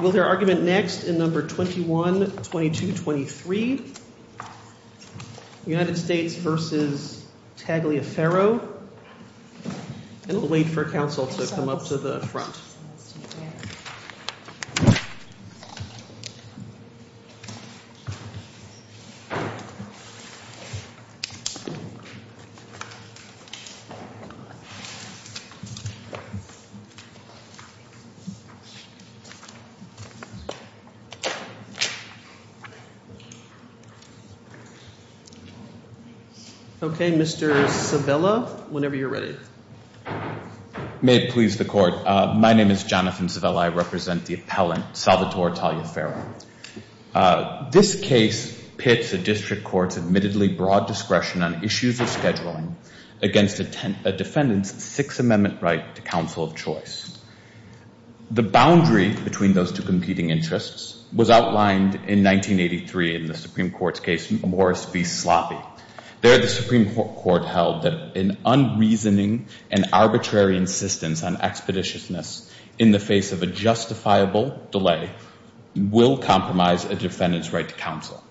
We'll hear argument next in number 21, 22, 23. United States v. Tagliaferro. And we'll wait for counsel to come up to the front. Okay, Mr. Civella, whenever you're ready. May it please the court. My name is Jonathan Civella. I represent the appellant, Salvatore Tagliaferro. This case pits a district court's admittedly broad discretion on issues of scheduling against a defendant's Sixth Amendment right to counsel of choice. The boundary between those two competing interests was outlined in 1983 in the Supreme Court's case Morris v. Sloppy. There, the Supreme Court held that an unreasoning and arbitrary insistence on expeditiousness in the face of a justifiable delay will compromise a defendant's right to counsel.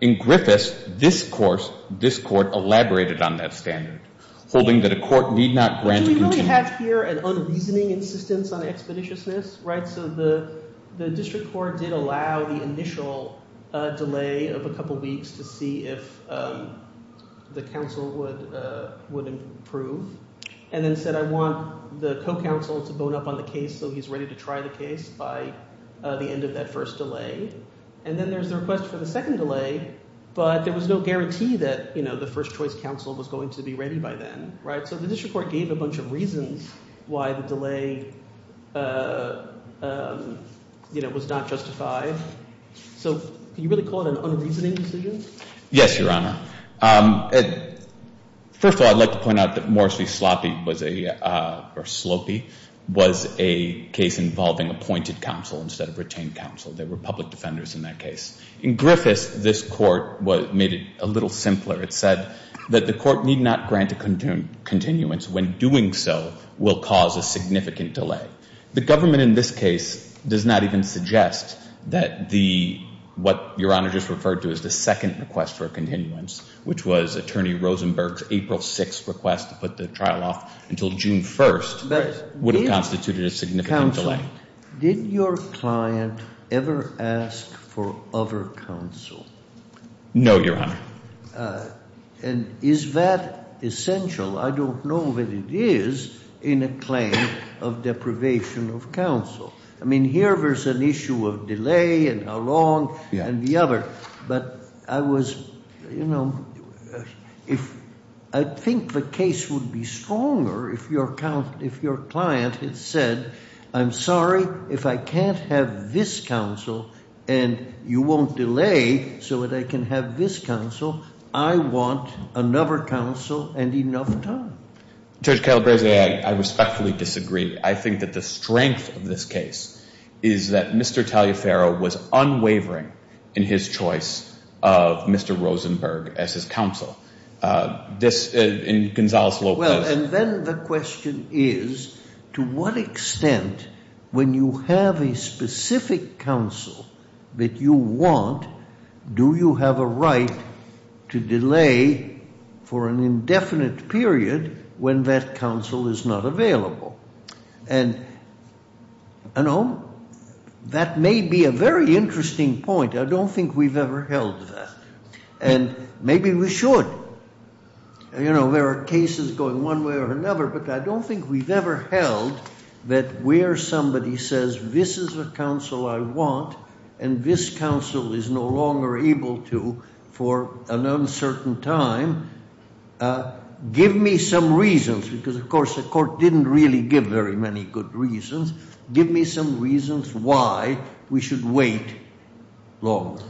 In Griffiths, this court elaborated on that standard, holding that a court need not grant— So you really have here an unreasoning insistence on expeditiousness, right? So the district court did allow the initial delay of a couple weeks to see if the counsel would improve and then said I want the co-counsel to vote up on the case so he's ready to try the case by the end of that first delay. And then there's the request for the second delay, but there was no guarantee that the first choice counsel was going to be ready by then. So the district court gave a bunch of reasons why the delay was not justified. So can you really call it an unreasoning decision? Yes, Your Honor. First of all, I'd like to point out that Morris v. Sloppy was a—or Sloppy—was a case involving appointed counsel instead of retained counsel. There were public defenders in that case. In Griffiths, this court made it a little simpler. It said that the court need not grant a continuance when doing so will cause a significant delay. The government in this case does not even suggest that the—what Your Honor just referred to as the second request for a continuance, which was Attorney Rosenberg's April 6th request to put the trial off until June 1st, would have constituted a significant delay. Did your client ever ask for other counsel? No, Your Honor. And is that essential? I don't know that it is in a claim of deprivation of counsel. I mean, here there's an issue of delay and how long and the other. But I was—you know, if—I think the case would be stronger if your client had said, I'm sorry, if I can't have this counsel and you won't delay so that I can have this counsel, I want another counsel and enough time. Judge Calabresi, I respectfully disagree. I think that the strength of this case is that Mr. Taliaferro was unwavering in his choice of Mr. Rosenberg as his counsel. This—and Gonzales Lopez— And, you know, that may be a very interesting point. I don't think we've ever held that. And maybe we should. You know, there are cases going one way or another, but I don't think we've ever held that where somebody says, this is a counsel I want and this counsel is no longer able to for an uncertain time, give me some reasons. Because, of course, the court didn't really give very many good reasons. Give me some reasons why we should wait longer.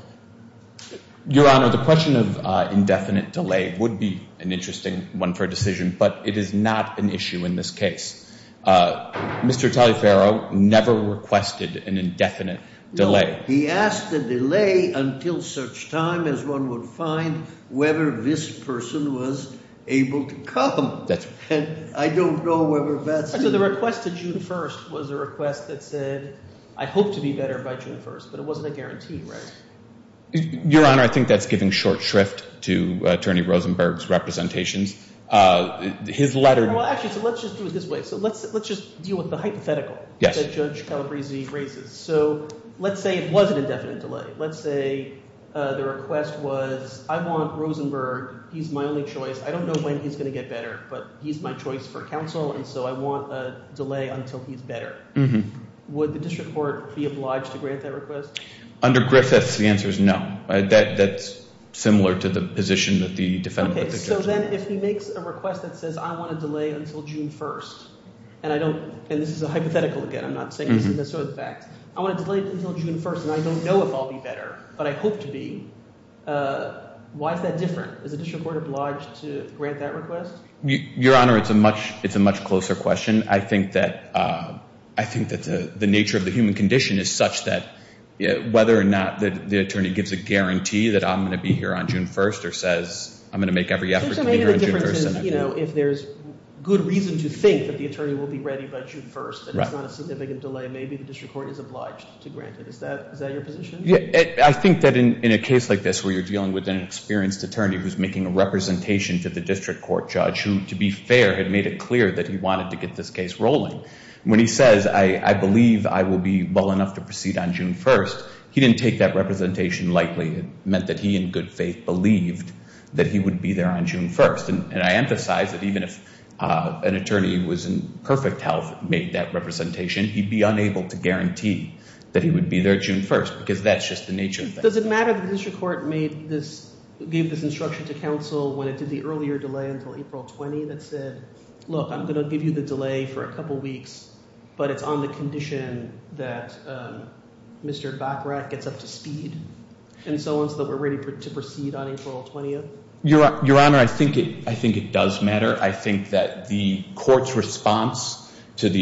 Your Honor, the question of indefinite delay would be an interesting one for a decision, but it is not an issue in this case. Mr. Taliaferro never requested an indefinite delay. No. He asked the delay until such time as one would find whether this person was able to come. And I don't know whether that's— So the request to June 1st was a request that said, I hope to be better by June 1st, but it wasn't a guarantee, right? Your Honor, I think that's giving short shrift to Attorney Rosenberg's representations. His letter— Well, actually, so let's just do it this way. So let's just deal with the hypothetical that Judge Calabresi raises. So let's say it was an indefinite delay. Let's say the request was, I want Rosenberg. He's my only choice. I don't know when he's going to get better, but he's my choice for counsel, and so I want a delay until he's better. Would the district court be obliged to grant that request? Under Griffiths, the answer is no. That's similar to the position that the defendant— Okay. So then if he makes a request that says, I want a delay until June 1st, and I don't—and this is a hypothetical again. I'm not saying this is necessarily the fact. I want a delay until June 1st, and I don't know if I'll be better, but I hope to be. Why is that different? Is the district court obliged to grant that request? Your Honor, it's a much closer question. I think that the nature of the human condition is such that whether or not the attorney gives a guarantee that I'm going to be here on June 1st or says I'm going to make every effort to be here on June 1st— I think maybe the difference is if there's good reason to think that the attorney will be ready by June 1st, and it's not a significant delay, maybe the district court is obliged to grant it. Is that your position? I think that in a case like this where you're dealing with an experienced attorney who's making a representation to the district court judge who, to be fair, had made it clear that he wanted to get this case rolling, when he says, I believe I will be well enough to proceed on June 1st, he didn't take that representation lightly. It meant that he in good faith believed that he would be there on June 1st, and I emphasize that even if an attorney who was in perfect health made that representation, he'd be unable to guarantee that he would be there June 1st because that's just the nature of things. Does it matter that the district court gave this instruction to counsel when it did the earlier delay until April 20th that said, look, I'm going to give you the delay for a couple weeks, but it's on the condition that Mr. Bachrach gets up to speed and so on so that we're ready to proceed on April 20th? Your Honor, I think it does matter. I think that the court's response on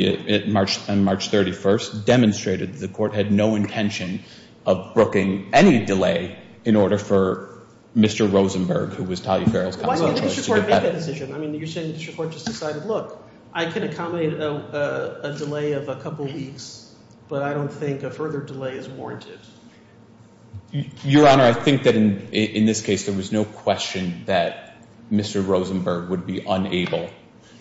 March 31st demonstrated the court had no intention of brooking any delay in order for Mr. Rosenberg, who was Talia Farrell's counsel, to get back. Why didn't the district court make that decision? I mean you're saying the district court just decided, look, I can accommodate a delay of a couple weeks, but I don't think a further delay is warranted. Your Honor, I think that in this case there was no question that Mr. Rosenberg would be unable,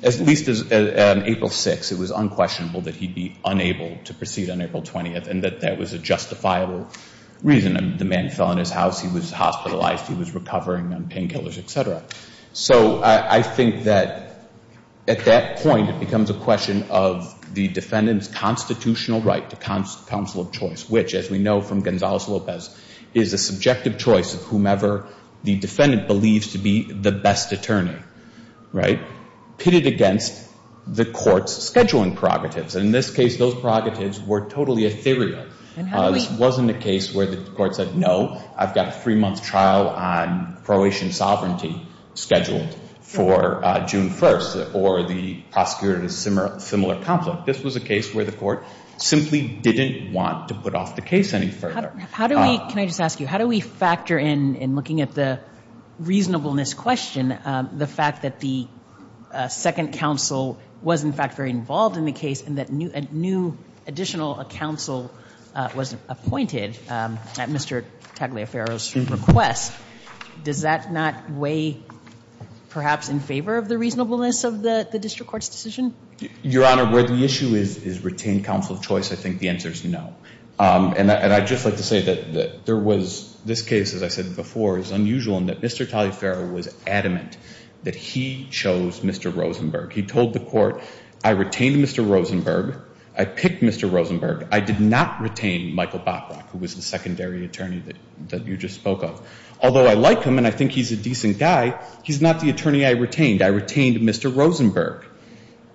at least on April 6th it was unquestionable that he'd be unable to proceed on April 20th and that that was a justifiable reason. The man fell in his house, he was hospitalized, he was recovering on painkillers, et cetera. So I think that at that point it becomes a question of the defendant's constitutional right to counsel of choice, which, as we know from Gonzales-Lopez, is a subjective choice of whomever the defendant believes to be the best attorney. Right? Pitted against the court's scheduling prerogatives. And in this case those prerogatives were totally ethereal. This wasn't a case where the court said, no, I've got a three-month trial on Croatian sovereignty scheduled for June 1st or the prosecutor had a similar conflict. This was a case where the court simply didn't want to put off the case any further. How do we, can I just ask you, how do we factor in, in looking at the reasonableness question, the fact that the second counsel was in fact very involved in the case and that a new additional counsel was appointed at Mr. Tagliaferro's request? Does that not weigh perhaps in favor of the reasonableness of the district court's decision? Your Honor, where the issue is, is retained counsel of choice, I think the answer is no. And I'd just like to say that there was, this case, as I said before, is unusual in that Mr. Tagliaferro was adamant that he chose Mr. Rosenberg. He told the court, I retained Mr. Rosenberg. I picked Mr. Rosenberg. I did not retain Michael Botrock, who was the secondary attorney that you just spoke of. Although I like him and I think he's a decent guy, he's not the attorney I retained. I retained Mr. Rosenberg.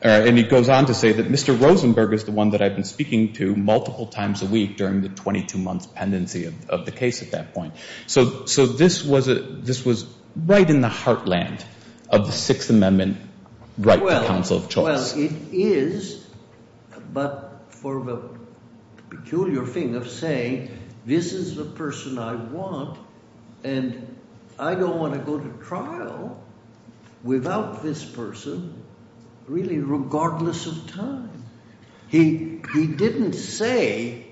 And he goes on to say that Mr. Rosenberg is the one that I've been speaking to multiple times a week during the 22-month pendency of the case at that point. So this was right in the heartland of the Sixth Amendment right to counsel of choice. Well, it is, but for the peculiar thing of saying this is the person I want and I don't want to go to trial without this person really regardless of time. He didn't say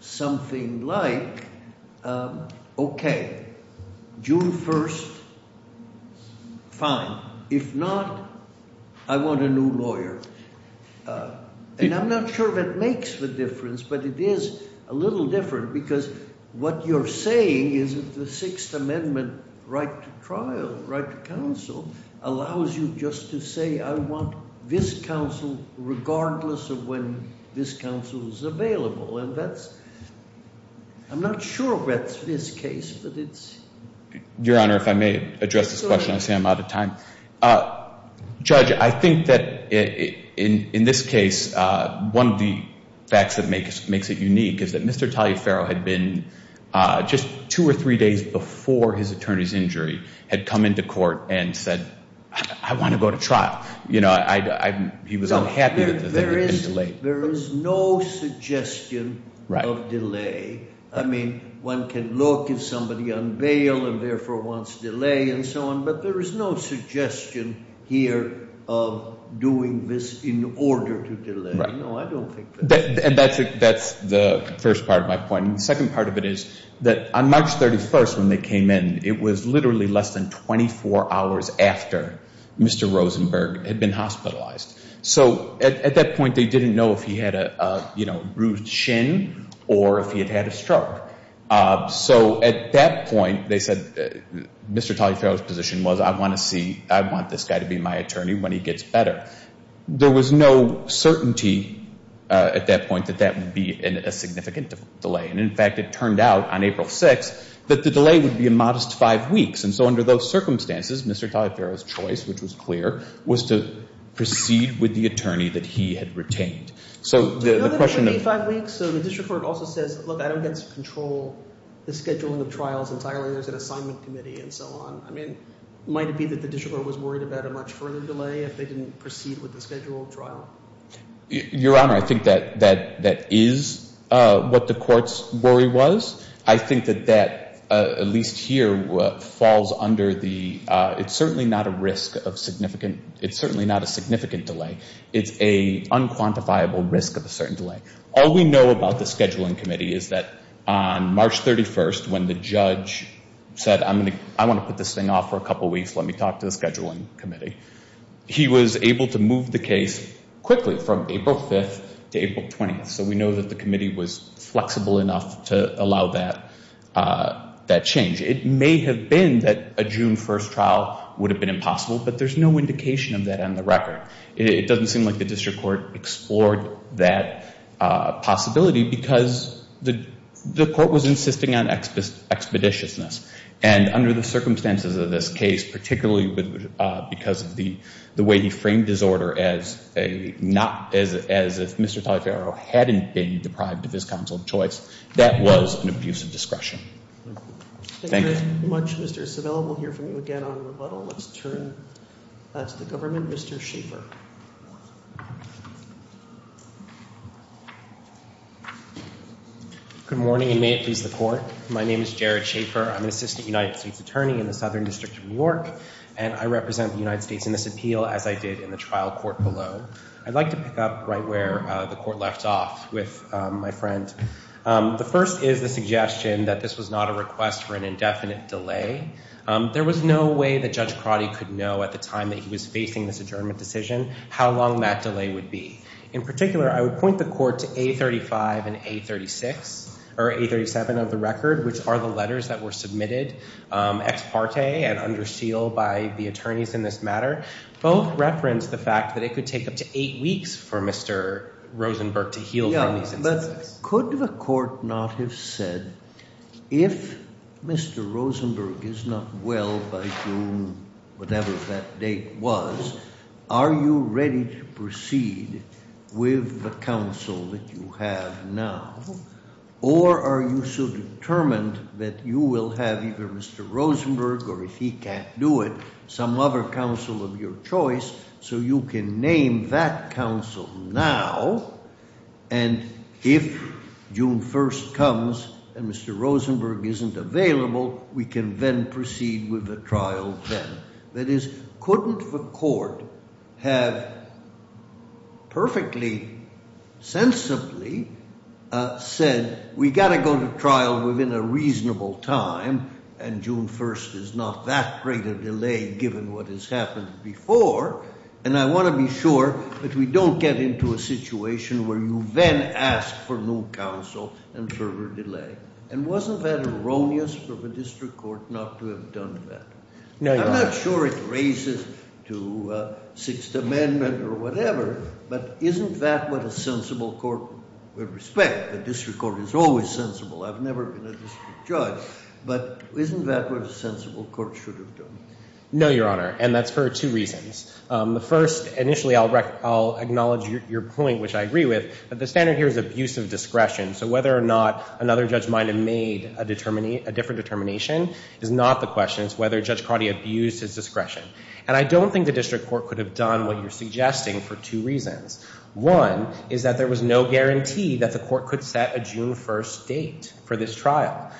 something like, okay, June 1st, fine. If not, I want a new lawyer. And I'm not sure that makes the difference, but it is a little different because what you're saying is that the Sixth Amendment right to trial, right to counsel, allows you just to say I want this counsel regardless of when this counsel is available. And that's ‑‑ I'm not sure that's this case, but it's ‑‑ Your Honor, if I may address this question. I see I'm out of time. Judge, I think that in this case, one of the facts that makes it unique is that Mr. Taliaferro had been just two or three days before his attorney's injury had come into court and said, I want to go to trial. You know, he was unhappy that the thing had been delayed. There is no suggestion of delay. I mean, one can look if somebody unveiled and therefore wants delay and so on, but there is no suggestion here of doing this in order to delay. No, I don't think that. And that's the first part of my point. The second part of it is that on March 31st when they came in, it was literally less than 24 hours after Mr. Rosenberg had been hospitalized. So at that point, they didn't know if he had a bruised shin or if he had had a stroke. So at that point, they said Mr. Taliaferro's position was I want to see, I want this guy to be my attorney when he gets better. There was no certainty at that point that that would be a significant delay. And, in fact, it turned out on April 6th that the delay would be a modest five weeks. And so under those circumstances, Mr. Taliaferro's choice, which was clear, was to proceed with the attorney that he had retained. So the question of – So the district court also says, look, I don't get to control the scheduling of trials entirely. There's an assignment committee and so on. I mean, might it be that the district court was worried about a much further delay if they didn't proceed with the scheduled trial? Your Honor, I think that that is what the court's worry was. I think that that, at least here, falls under the – it's certainly not a risk of significant – it's certainly not a significant delay. It's an unquantifiable risk of a certain delay. All we know about the scheduling committee is that on March 31st, when the judge said, I want to put this thing off for a couple weeks, let me talk to the scheduling committee, he was able to move the case quickly from April 5th to April 20th. So we know that the committee was flexible enough to allow that change. It may have been that a June 1st trial would have been impossible, but there's no indication of that on the record. It doesn't seem like the district court explored that possibility because the court was insisting on expeditiousness. And under the circumstances of this case, particularly because of the way he framed his order as a not – as if Mr. Taliaferro hadn't been deprived of his counsel of choice, that was an abuse of discretion. Thank you. Thank you very much, Mr. Civella. We'll hear from you again on rebuttal. Let's turn to the government. Mr. Schaffer. Good morning, and may it please the court. My name is Jared Schaffer. I'm an assistant United States attorney in the Southern District of New York, and I represent the United States in this appeal, as I did in the trial court below. I'd like to pick up right where the court left off with my friend. The first is the suggestion that this was not a request for an indefinite delay. There was no way that Judge Crotty could know at the time that he was facing this adjournment decision how long that delay would be. In particular, I would point the court to A35 and A36 – or A37 of the record, which are the letters that were submitted ex parte and under seal by the attorneys in this matter. Both reference the fact that it could take up to eight weeks for Mr. Rosenberg to heal from these incidences. Could the court not have said, if Mr. Rosenberg is not well by June, whatever that date was, are you ready to proceed with the counsel that you have now? Or are you so determined that you will have either Mr. Rosenberg, or if he can't do it, some other counsel of your choice, so you can name that counsel now? And if June 1st comes and Mr. Rosenberg isn't available, we can then proceed with the trial then. That is, couldn't the court have perfectly sensibly said, we've got to go to trial within a reasonable time, and June 1st is not that great a delay given what has happened before, and I want to be sure that we don't get into a situation where you then ask for new counsel and further delay. And wasn't that erroneous of a district court not to have done that? I'm not sure it raises to Sixth Amendment or whatever, but isn't that what a sensible court would respect? A district court is always sensible. I've never been a district judge, but isn't that what a sensible court should have done? No, Your Honor, and that's for two reasons. The first, initially, I'll acknowledge your point, which I agree with, but the standard here is abuse of discretion. So whether or not another judge might have made a different determination is not the question. It's whether Judge Crotty abused his discretion. And I don't think the district court could have done what you're suggesting for two reasons. One is that there was no guarantee that the court could set a June 1st date for this trial.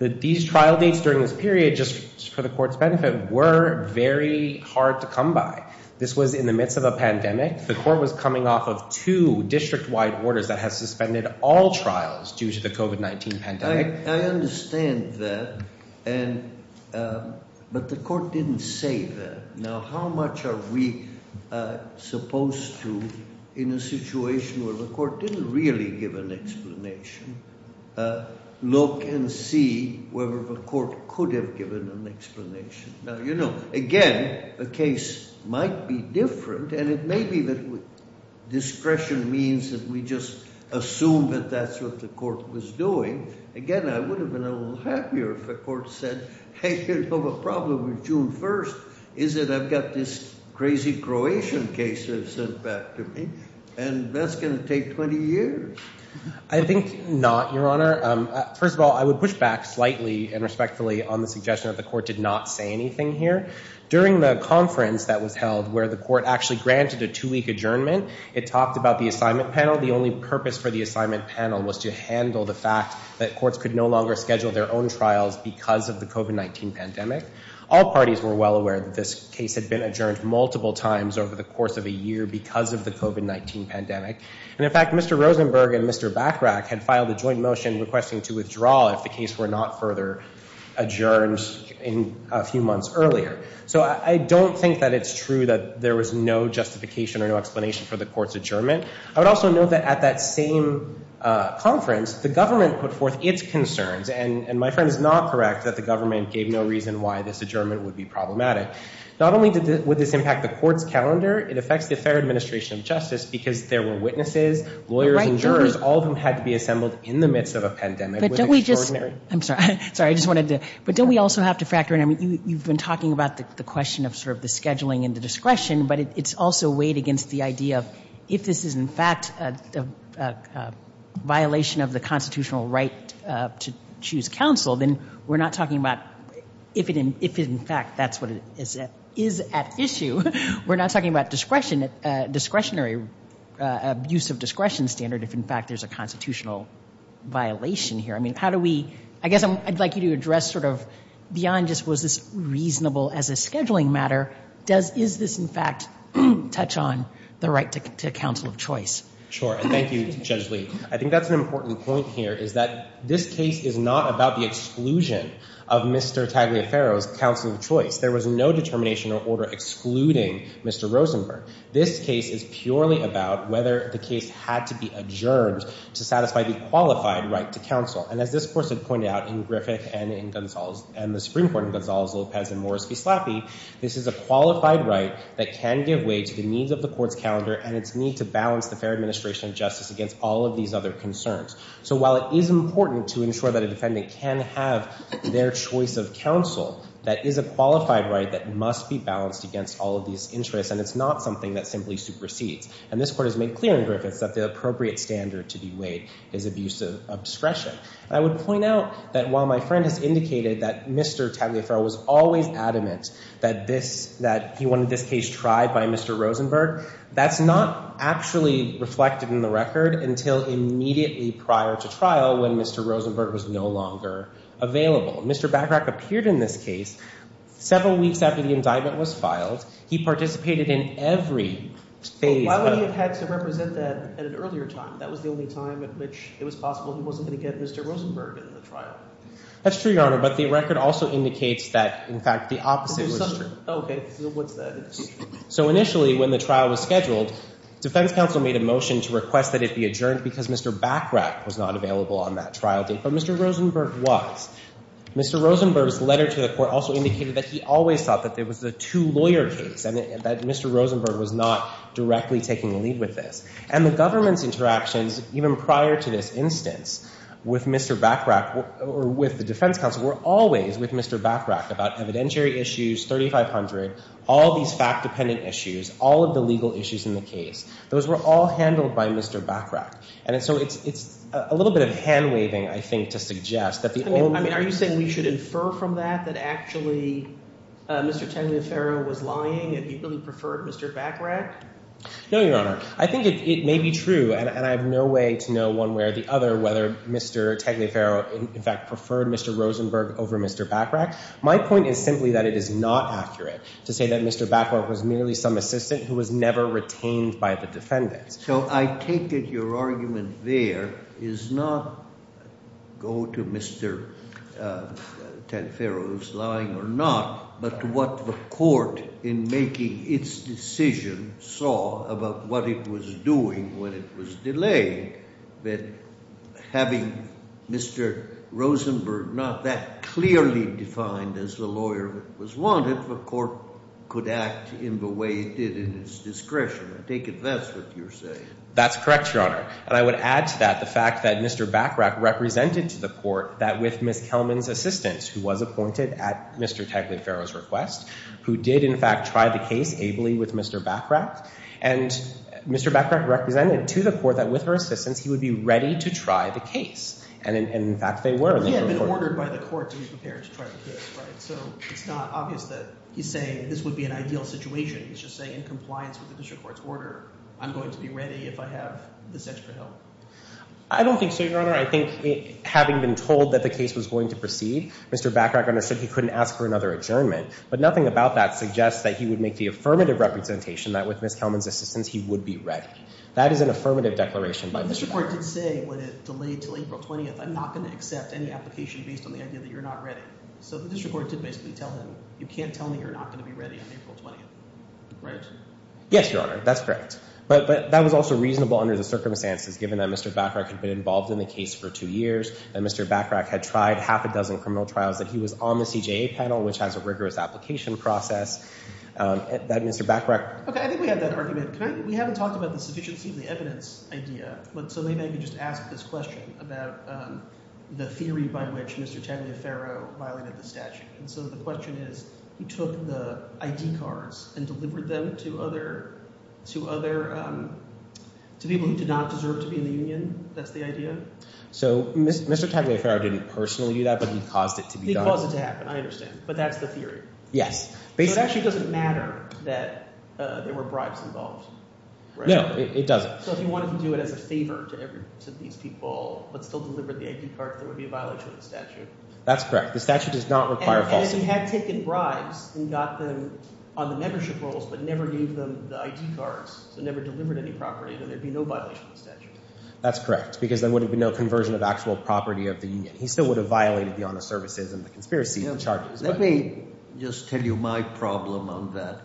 These trial dates during this period, just for the court's benefit, were very hard to come by. This was in the midst of a pandemic. The court was coming off of two district-wide orders that had suspended all trials due to the COVID-19 pandemic. I understand that, but the court didn't say that. Now, how much are we supposed to, in a situation where the court didn't really give an explanation, look and see whether the court could have given an explanation? Now, you know, again, the case might be different, and it may be that discretion means that we just assume that that's what the court was doing. Again, I would have been a little happier if the court said, hey, you know, the problem with June 1st is that I've got this crazy Croatian case that's sent back to me, and that's going to take 20 years. I think not, Your Honor. First of all, I would push back slightly and respectfully on the suggestion that the court did not say anything here. During the conference that was held, where the court actually granted a two-week adjournment, it talked about the assignment panel. The only purpose for the assignment panel was to handle the fact that courts could no longer schedule their own trials because of the COVID-19 pandemic. All parties were well aware that this case had been adjourned multiple times over the course of a year because of the COVID-19 pandemic. And in fact, Mr. Rosenberg and Mr. Bachrach had filed a joint motion requesting to withdraw if the case were not further adjourned in a few months earlier. So I don't think that it's true that there was no justification or no explanation for the court's adjournment. I would also note that at that same conference, the government put forth its concerns. And my friend is not correct that the government gave no reason why this adjournment would be problematic. Not only would this impact the court's calendar, it affects the entire administration of justice because there were witnesses, lawyers, and jurors, all of whom had to be assembled in the midst of a pandemic. I'm sorry. I just wanted to – but don't we also have to factor in – you've been talking about the question of sort of the scheduling and the discretion, but it's also weighed against the idea of if this is in fact a violation of the constitutional right to choose counsel, then we're not talking about if, in fact, that's what is at issue. We're not talking about discretionary abuse of discretion standard if, in fact, there's a constitutional violation here. I mean, how do we – I guess I'd like you to address sort of beyond just was this reasonable as a scheduling matter, does – is this, in fact, touch on the right to counsel of choice? Sure, and thank you, Judge Lee. I think that's an important point here is that this case is not about the exclusion of Mr. Tagliaferro's counsel of choice. There was no determination or order excluding Mr. Rosenberg. This case is purely about whether the case had to be adjourned to satisfy the qualified right to counsel. And as this person pointed out in Griffith and in Gonzales and the Supreme Court in Gonzales, Lopez, and Morris v. Slappy, this is a qualified right that can give way to the needs of the court's calendar and its need to balance the fair administration of justice against all of these other concerns. So while it is important to ensure that a defendant can have their choice of counsel, that is a qualified right that must be balanced against all of these interests, and it's not something that simply supersedes. And this court has made clear in Griffith that the appropriate standard to be weighed is abuse of discretion. I would point out that while my friend has indicated that Mr. Tagliaferro was always adamant that he wanted this case tried by Mr. Rosenberg, that's not actually reflected in the record until immediately prior to trial when Mr. Rosenberg was no longer available. Mr. Bagrach appeared in this case several weeks after the indictment was filed. He participated in every phase of it. Why would he have had to represent that at an earlier time? That was the only time at which it was possible he wasn't going to get Mr. Rosenberg in the trial. That's true, Your Honor, but the record also indicates that, in fact, the opposite was true. Okay. What's that? So initially when the trial was scheduled, defense counsel made a motion to request that it be adjourned because Mr. Bagrach was not available on that trial date, but Mr. Rosenberg was. Mr. Rosenberg's letter to the court also indicated that he always thought that it was a two-lawyer case and that Mr. Rosenberg was not directly taking the lead with this. And the government's interactions even prior to this instance with Mr. Bagrach or with the defense counsel were always with Mr. Bagrach about evidentiary issues, 3500, all these fact-dependent issues, all of the legal issues in the case. Those were all handled by Mr. Bagrach. And so it's a little bit of hand-waving, I think, to suggest that the old— Are you saying we should infer from that that actually Mr. Tenley and Farrell was lying and he really preferred Mr. Bagrach? No, Your Honor. I think it may be true, and I have no way to know one way or the other whether Mr. Tenley Farrell, in fact, preferred Mr. Rosenberg over Mr. Bagrach. My point is simply that it is not accurate to say that Mr. Bagrach was merely some assistant who was never retained by the defendants. So I take it your argument there is not go to Mr. Tenley Farrell who's lying or not, but what the court in making its decision saw about what it was doing when it was delayed, that having Mr. Rosenberg not that clearly defined as the lawyer that was wanted, the court could act in the way it did in its discretion. I take it that's what you're saying. That's correct, Your Honor. And I would add to that the fact that Mr. Bagrach represented to the court that with Ms. Kelman's assistance, who was appointed at Mr. Tenley Farrell's request, who did, in fact, try the case ably with Mr. Bagrach, and Mr. Bagrach represented to the court that with her assistance he would be ready to try the case. And, in fact, they were. But he had been ordered by the court to be prepared to try the case, right? So it's not obvious that he's saying this would be an ideal situation. He's just saying in compliance with the district court's order, I'm going to be ready if I have this extra help. I don't think so, Your Honor. I think having been told that the case was going to proceed, Mr. Bagrach understood he couldn't ask for another adjournment. But nothing about that suggests that he would make the affirmative representation that with Ms. Kelman's assistance he would be ready. That is an affirmative declaration by the district court. But the district court did say when it delayed until April 20th, I'm not going to accept any application based on the idea that you're not ready. So the district court did basically tell him, you can't tell me you're not going to be ready on April 20th, right? Yes, Your Honor. That's correct. But that was also reasonable under the circumstances, given that Mr. Bagrach had been involved in the case for two years, that Mr. Bagrach had tried half a dozen criminal trials, that he was on the CJA panel, which has a rigorous application process, that Mr. Bagrach – Okay, I think we have that argument. We haven't talked about the sufficiency of the evidence idea, so maybe I can just ask this question about the theory by which Mr. Tagliaferro violated the statute. And so the question is, he took the ID cards and delivered them to other – to people who did not deserve to be in the union. That's the idea? So Mr. Tagliaferro didn't personally do that, but he caused it to be done. He caused it to happen. I understand. But that's the theory. Yes. So it actually doesn't matter that there were bribes involved, right? No, it doesn't. So if he wanted to do it as a favor to these people but still delivered the ID cards, there would be a violation of the statute. That's correct. The statute does not require falsification. But if he had taken bribes and got them on the membership rolls but never gave them the ID cards, so never delivered any property, then there would be no violation of the statute. That's correct because there would have been no conversion of actual property of the union. He still would have violated the honest services and the conspiracy charges. Let me just tell you my problem on that.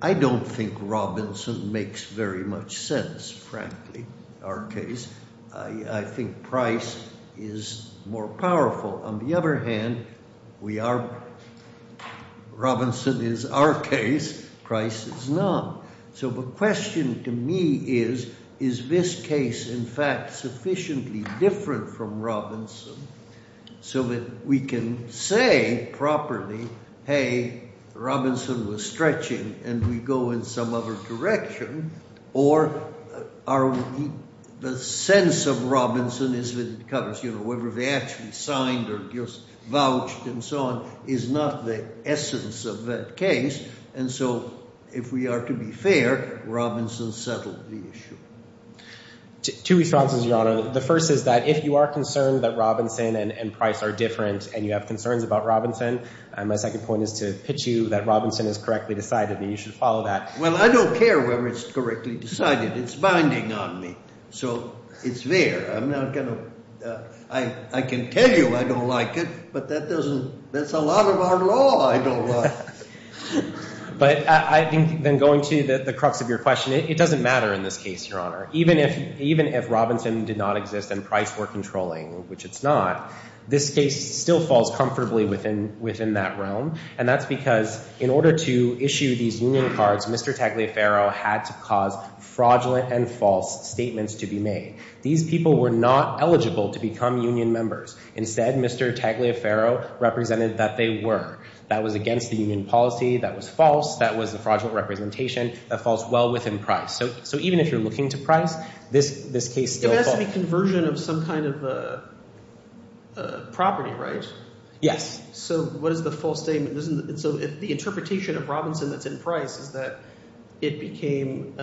I don't think Robinson makes very much sense, frankly, our case. I think Price is more powerful. On the other hand, Robinson is our case, Price is not. So the question to me is, is this case, in fact, sufficiently different from Robinson so that we can say properly, hey, Robinson was stretching and we go in some other direction or the sense of Robinson is whether they actually signed or just vouched and so on is not the essence of that case. And so if we are to be fair, Robinson settled the issue. Two responses, Your Honor. The first is that if you are concerned that Robinson and Price are different and you have concerns about Robinson, my second point is to pitch you that Robinson is correctly decided and you should follow that. Well, I don't care whether it's correctly decided. It's binding on me, so it's fair. I'm not going to – I can tell you I don't like it, but that doesn't – that's a lot of our law I don't like. But I think then going to the crux of your question, it doesn't matter in this case, Your Honor. Even if Robinson did not exist and Price were controlling, which it's not, this case still falls comfortably within that realm, and that's because in order to issue these union cards, Mr. Tagliaferro had to cause fraudulent and false statements to be made. These people were not eligible to become union members. Instead, Mr. Tagliaferro represented that they were. That was against the union policy. That was false. That was a fraudulent representation. That falls well within Price. So even if you're looking to Price, this case still falls. It has to be conversion of some kind of property, right? Yes. So what is the false statement? So the interpretation of Robinson that's in Price is that it became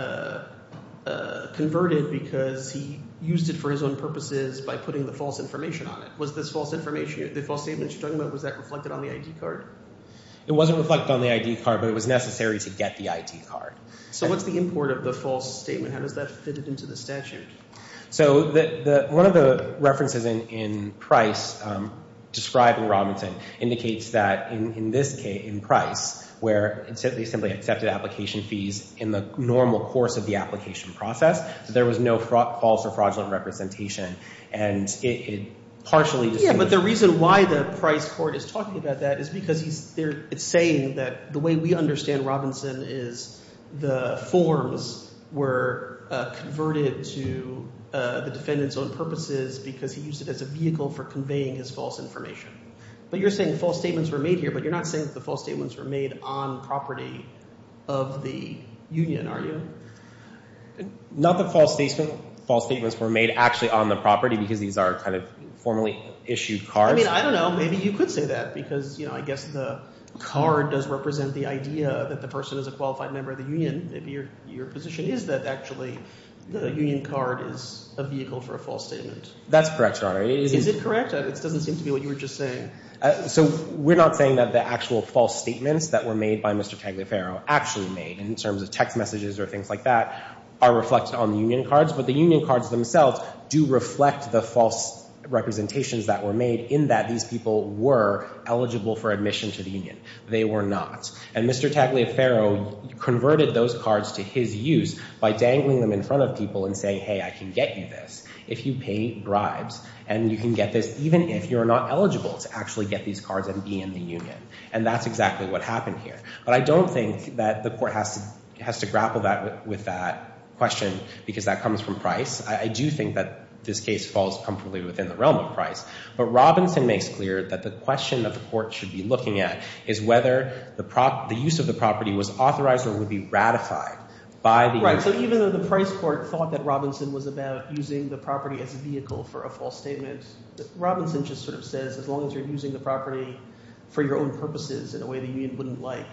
converted because he used it for his own purposes by putting the false information on it. Was this false information – the false statement you're talking about, was that reflected on the ID card? It wasn't reflected on the ID card, but it was necessary to get the ID card. So what's the import of the false statement? How does that fit into the statute? So one of the references in Price describing Robinson indicates that in this case, in Price, where they simply accepted application fees in the normal course of the application process, there was no false or fraudulent representation. And it partially – Yeah, but the reason why the Price court is talking about that is because it's saying that the way we understand Robinson is the forms were converted to the defendant's own purposes because he used it as a vehicle for conveying his false information. But you're saying false statements were made here, but you're not saying that the false statements were made on property of the union, are you? Not that false statements were made actually on the property because these are kind of formally issued cards. I mean, I don't know. Maybe you could say that because, you know, I guess the card does represent the idea that the person is a qualified member of the union. Maybe your position is that actually the union card is a vehicle for a false statement. That's correct, Your Honor. Is it correct? It doesn't seem to be what you were just saying. So we're not saying that the actual false statements that were made by Mr. Tagliaferro actually made in terms of text messages or things like that are reflected on the union cards, but the union cards themselves do reflect the false representations that were made in that these people were eligible for admission to the union. They were not. And Mr. Tagliaferro converted those cards to his use by dangling them in front of people and saying, hey, I can get you this if you pay bribes and you can get this even if you're not eligible to actually get these cards and be in the union. And that's exactly what happened here. But I don't think that the court has to grapple with that question because that comes from Price. I do think that this case falls comfortably within the realm of Price. But Robinson makes clear that the question that the court should be looking at is whether the use of the property was authorized or would be ratified by the union. Right. So even though the Price court thought that Robinson was about using the property as a vehicle for a false statement, Robinson just sort of says as long as you're using the property for your own purposes in a way the union wouldn't like,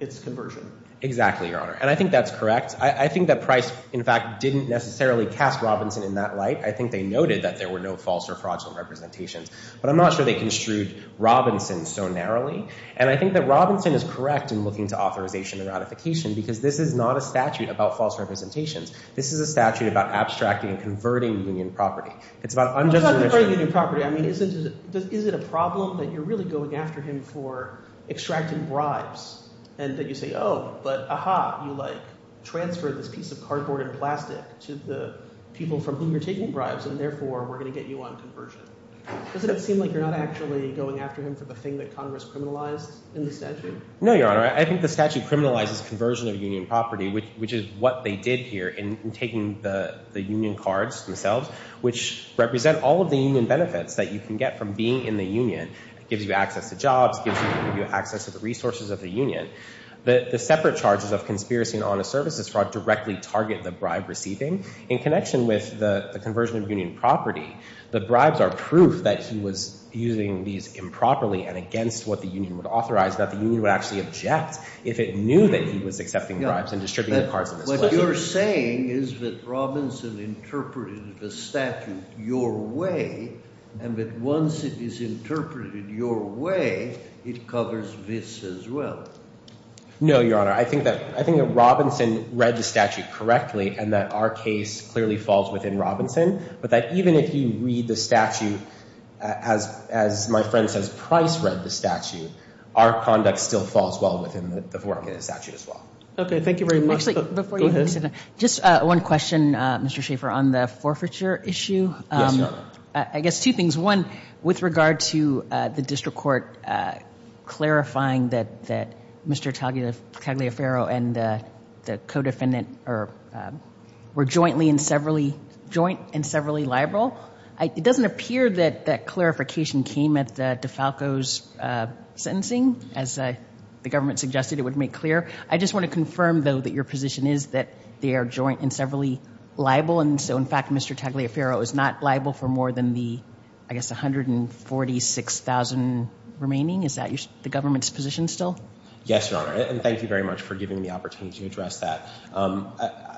it's conversion. Exactly, Your Honor. And I think that's correct. I think that Price, in fact, didn't necessarily cast Robinson in that light. I think they noted that there were no false or fraudulent representations. But I'm not sure they construed Robinson so narrowly. And I think that Robinson is correct in looking to authorization and ratification because this is not a statute about false representations. This is a statute about abstracting and converting union property. It's about unjustification. It's not converting union property. I mean, is it a problem that you're really going after him for extracting bribes and that you say, oh, but, aha, you, like, transfer this piece of cardboard and plastic to the people from whom you're taking bribes, and therefore we're going to get you on conversion? Doesn't it seem like you're not actually going after him for the thing that Congress criminalized in the statute? No, Your Honor. I think the statute criminalizes conversion of union property, which is what they did here in taking the union cards themselves, which represent all of the union benefits that you can get from being in the union. It gives you access to jobs. It gives you access to the resources of the union. The separate charges of conspiracy and honest services fraud directly target the bribe-receiving. In connection with the conversion of union property, the bribes are proof that he was using these improperly and against what the union would authorize, that the union would actually object if it knew that he was accepting bribes and distributing the cards in this way. What you're saying is that Robinson interpreted the statute your way and that once it is interpreted your way, it covers this as well. No, Your Honor. I think that Robinson read the statute correctly and that our case clearly falls within Robinson, but that even if you read the statute as my friend says Price read the statute, our conduct still falls well within the work in the statute as well. Okay. Thank you very much. Actually, just one question, Mr. Schaffer, on the forfeiture issue. Yes, Your Honor. I guess two things. One, with regard to the district court clarifying that Mr. Tagliaferro and the co-defendant were jointly and severally liable. It doesn't appear that that clarification came at DeFalco's sentencing. As the government suggested, it would make clear. I just want to confirm, though, that your position is that they are jointly and severally liable, and so, in fact, Mr. Tagliaferro is not liable for more than the, I guess, 146,000 remaining. Is that the government's position still? Yes, Your Honor, and thank you very much for giving me the opportunity to address that.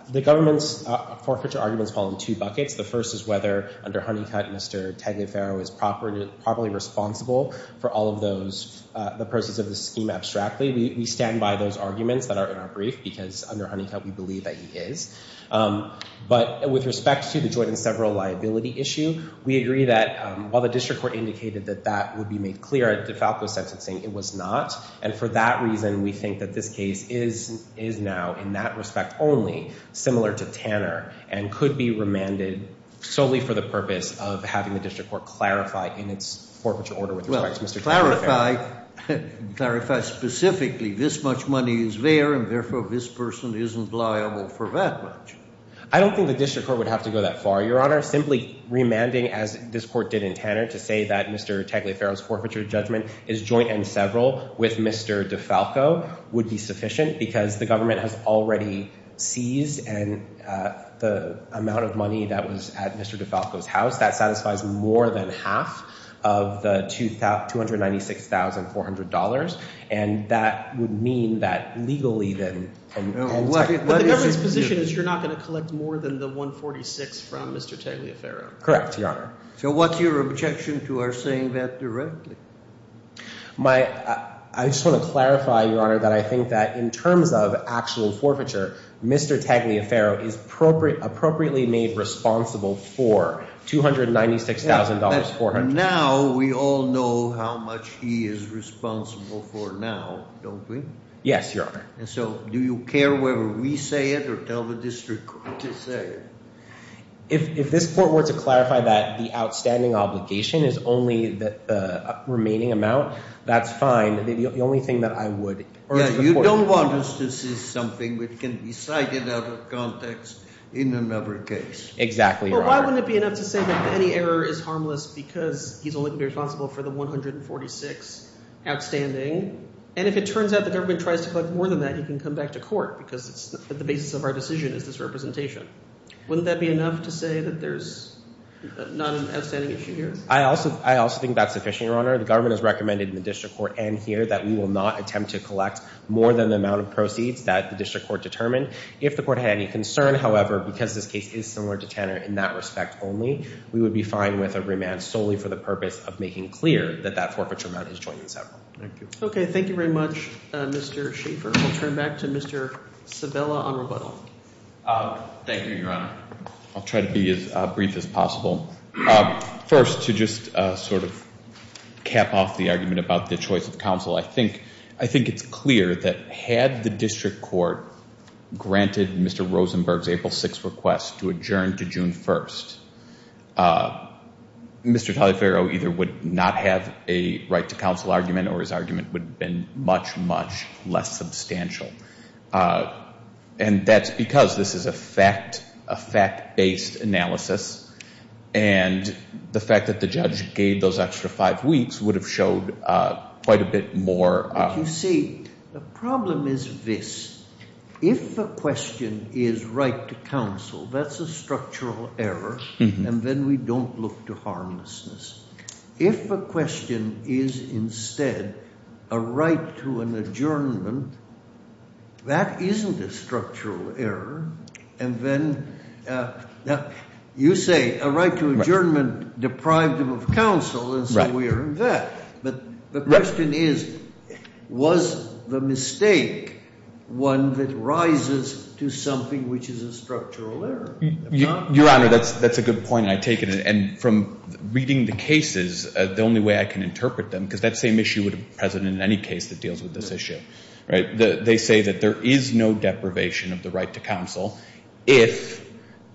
The government's forfeiture arguments fall in two buckets. The first is whether, under Honeycutt, Mr. Tagliaferro is properly responsible for all of the proceeds of the scheme abstractly. We stand by those arguments that are in our brief because, under Honeycutt, we believe that he is. But with respect to the joint and several liability issue, we agree that while the district court indicated that that would be made clear at DeFalco's sentencing, it was not, and for that reason, we think that this case is now, in that respect only, similar to Tanner and could be remanded solely for the purpose of having the district court clarify in its forfeiture order with respect to Mr. Tagliaferro. Well, clarify specifically this much money is there, and therefore this person isn't liable for that much. I don't think the district court would have to go that far, Your Honor. Simply remanding, as this court did in Tanner, to say that Mr. Tagliaferro's forfeiture judgment is joint and several with Mr. DeFalco would be sufficient because the government has already seized the amount of money that was at Mr. DeFalco's house. That satisfies more than half of the $296,400, and that would mean that legally then. But the government's position is you're not going to collect more than the $146,000 from Mr. Tagliaferro. Correct, Your Honor. So what's your objection to our saying that directly? I just want to clarify, Your Honor, that I think that in terms of actual forfeiture, Mr. Tagliaferro is appropriately made responsible for $296,400. Now we all know how much he is responsible for now, don't we? Yes, Your Honor. So do you care whether we say it or tell the district court to say it? If this court were to clarify that the outstanding obligation is only the remaining amount, that's fine. The only thing that I would urge the court to do. You don't want us to see something that can be cited out of context in another case. Exactly, Your Honor. Why wouldn't it be enough to say that any error is harmless because he's only responsible for the $146,000 outstanding? And if it turns out the government tries to collect more than that, he can come back to court because the basis of our decision is this representation. Wouldn't that be enough to say that there's not an outstanding issue here? I also think that's sufficient, Your Honor. The government has recommended in the district court and here that we will not attempt to collect more than the amount of proceeds that the district court determined. If the court had any concern, however, because this case is similar to Tanner in that respect only, we would be fine with a remand solely for the purpose of making clear that that forfeiture amount is joined in several. Thank you. Okay, thank you very much, Mr. Schaefer. We'll turn back to Mr. Sabella on rebuttal. Thank you, Your Honor. I'll try to be as brief as possible. First, to just sort of cap off the argument about the choice of counsel, I think it's clear that had the district court granted Mr. Rosenberg's April 6th request to adjourn to June 1st, Mr. Taliaferro either would not have a right to counsel argument or his argument would have been much, much less substantial. And that's because this is a fact-based analysis, and the fact that the judge gave those extra five weeks would have showed quite a bit more. You see, the problem is this. If the question is right to counsel, that's a structural error, and then we don't look to harmlessness. If the question is instead a right to an adjournment, that isn't a structural error. And then you say a right to adjournment deprived him of counsel, and so we are in debt. But the question is, was the mistake one that rises to something which is a structural error? Your Honor, that's a good point, and I take it. And from reading the cases, the only way I can interpret them, because that same issue would be present in any case that deals with this issue, right? They say that there is no deprivation of the right to counsel if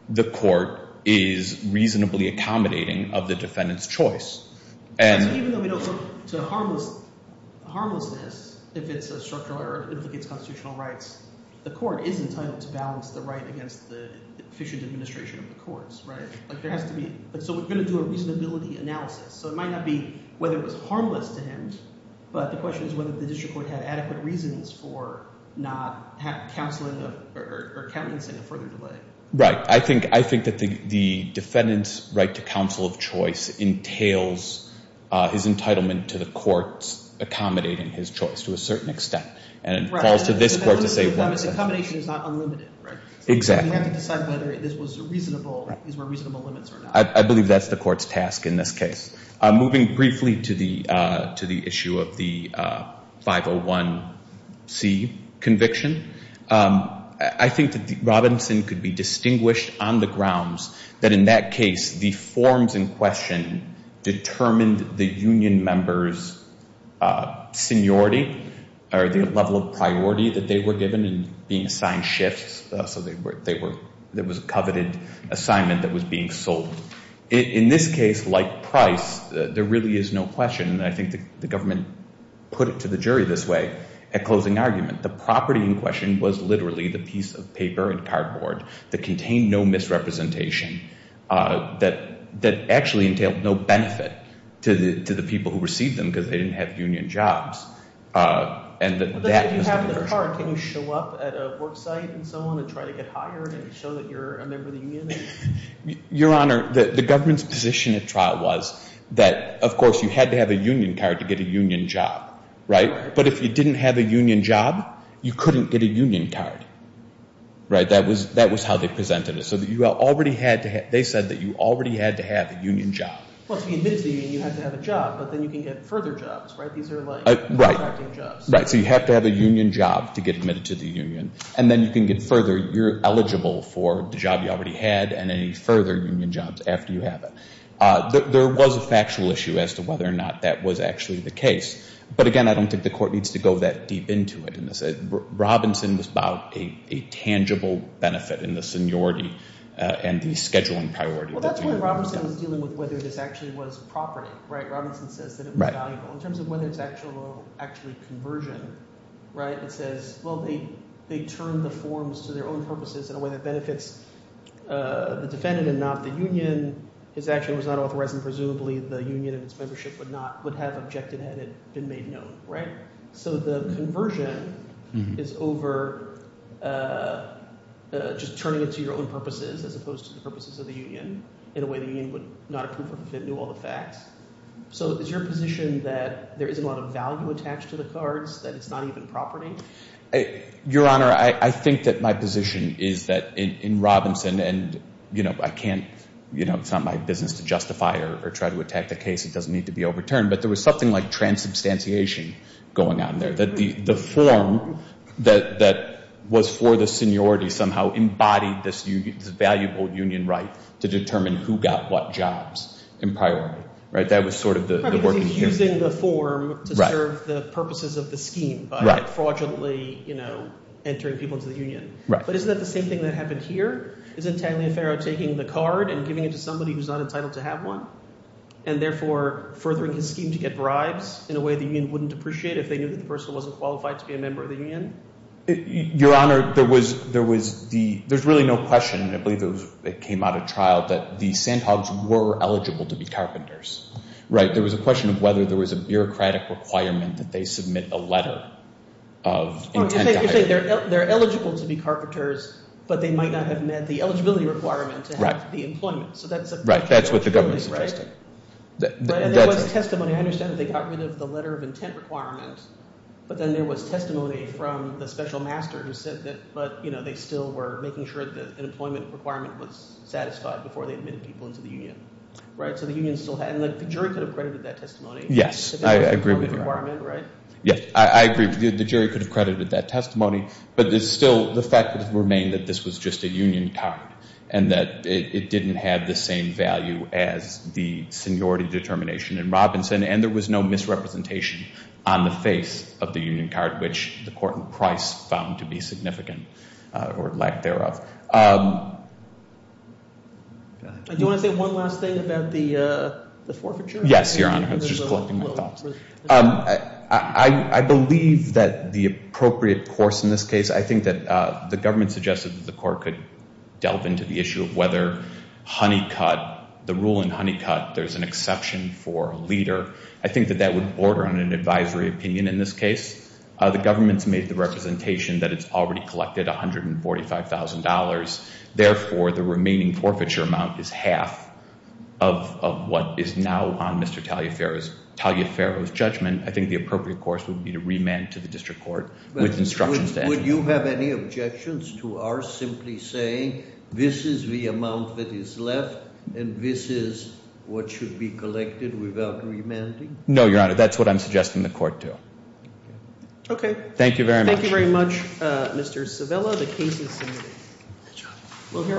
the court is reasonably accommodating of the defendant's choice. Even though we don't look to harmlessness, if it's a structural error, if it gets constitutional rights, the court is entitled to balance the right against the efficient administration of the courts, right? So we're going to do a reasonability analysis. So it might not be whether it was harmless to him, but the question is whether the district court had adequate reasons for not counseling or countenancing a further delay. Right. I think that the defendant's right to counsel of choice entails his entitlement to the courts accommodating his choice to a certain extent. Right. And it falls to this court to say one exception. The accommodation is not unlimited, right? Exactly. So you have to decide whether this was a reasonable, these were reasonable limits or not. I believe that's the court's task in this case. Moving briefly to the issue of the 501C conviction, I think that Robinson could be distinguished on the grounds that in that case, the forms in question determined the union members' seniority or the level of priority that they were given in being assigned shifts, so there was a coveted assignment that was being sold. In this case, like Price, there really is no question. I think the government put it to the jury this way at closing argument. The property in question was literally the piece of paper and cardboard that contained no misrepresentation that actually entailed no benefit to the people who received them because they didn't have union jobs. And that was the version. But then if you have the card, can you show up at a work site and so on and try to get hired and show that you're a member of the union? Your Honor, the government's position at trial was that, of course, you had to have a union card to get a union job, right? Right. But if you didn't have a union job, you couldn't get a union card, right? That was how they presented it. So you already had to have they said that you already had to have a union job. Well, to be admitted to the union, you had to have a job, but then you can get further jobs, right? These are like contracting jobs. Right. So you have to have a union job to get admitted to the union, and then you can get further. You're eligible for the job you already had and any further union jobs after you have it. There was a factual issue as to whether or not that was actually the case. But, again, I don't think the court needs to go that deep into it. Robinson was about a tangible benefit in the seniority and the scheduling priority. Well, that's why Robinson was dealing with whether this actually was property, right? Robinson says that it was valuable. In terms of whether it's actual or actually conversion, right, it says, well, they turned the forms to their own purposes in a way that benefits the defendant and not the union. His action was not authorized, and presumably the union and its membership would not have been made known, right? So the conversion is over just turning it to your own purposes as opposed to the purposes of the union in a way the union would not approve of if it knew all the facts. So is your position that there isn't a lot of value attached to the cards, that it's not even property? Your Honor, I think that my position is that in Robinson and, you know, I can't, you know, it's not my business to justify or try to attack the case. It doesn't need to be overturned. But there was something like transubstantiation going on there, that the form that was for the seniority somehow embodied this valuable union right to determine who got what jobs in priority, right? That was sort of the work in here. Probably because he's using the form to serve the purposes of the scheme by fraudulently, you know, entering people into the union. But isn't that the same thing that happened here? Isn't Taliaferro taking the card and giving it to somebody who's not entitled to have one and therefore furthering his scheme to get bribes in a way the union wouldn't appreciate if they knew that the person wasn't qualified to be a member of the union? Your Honor, there's really no question, and I believe it came out of trial, that the Sandhogs were eligible to be carpenters, right? There was a question of whether there was a bureaucratic requirement that they submit a letter of intent. You're saying they're eligible to be carpenters, but they might not have met the eligibility requirement to have the employment. Right, that's what the government's suggesting. And there was testimony. I understand that they got rid of the letter of intent requirement, but then there was testimony from the special master who said that, but, you know, they still were making sure that the employment requirement was satisfied before they admitted people into the union, right? So the union still had it. And the jury could have credited that testimony. Yes, I agree with you. Yes, I agree. The jury could have credited that testimony, but it's still the fact that it remained that this was just a union card and that it didn't have the same value as the seniority determination in Robinson and there was no misrepresentation on the face of the union card, which the court in Price found to be significant or lack thereof. Do you want to say one last thing about the forfeiture? Yes, Your Honor. I was just collecting my thoughts. I believe that the appropriate course in this case, I think that the government suggested that the court could delve into the issue of whether Honeycutt, the rule in Honeycutt, there's an exception for a leader. I think that that would border on an advisory opinion in this case. The government's made the representation that it's already collected $145,000. Therefore, the remaining forfeiture amount is half of what is now on Mr. Taliaferro's judgment. I think the appropriate course would be to remand to the district court with instructions. Would you have any objections to our simply saying this is the amount that is left and this is what should be collected without remanding? No, Your Honor. That's what I'm suggesting the court do. Okay. Thank you very much. Thank you very much, Mr. Savella. The case is submitted.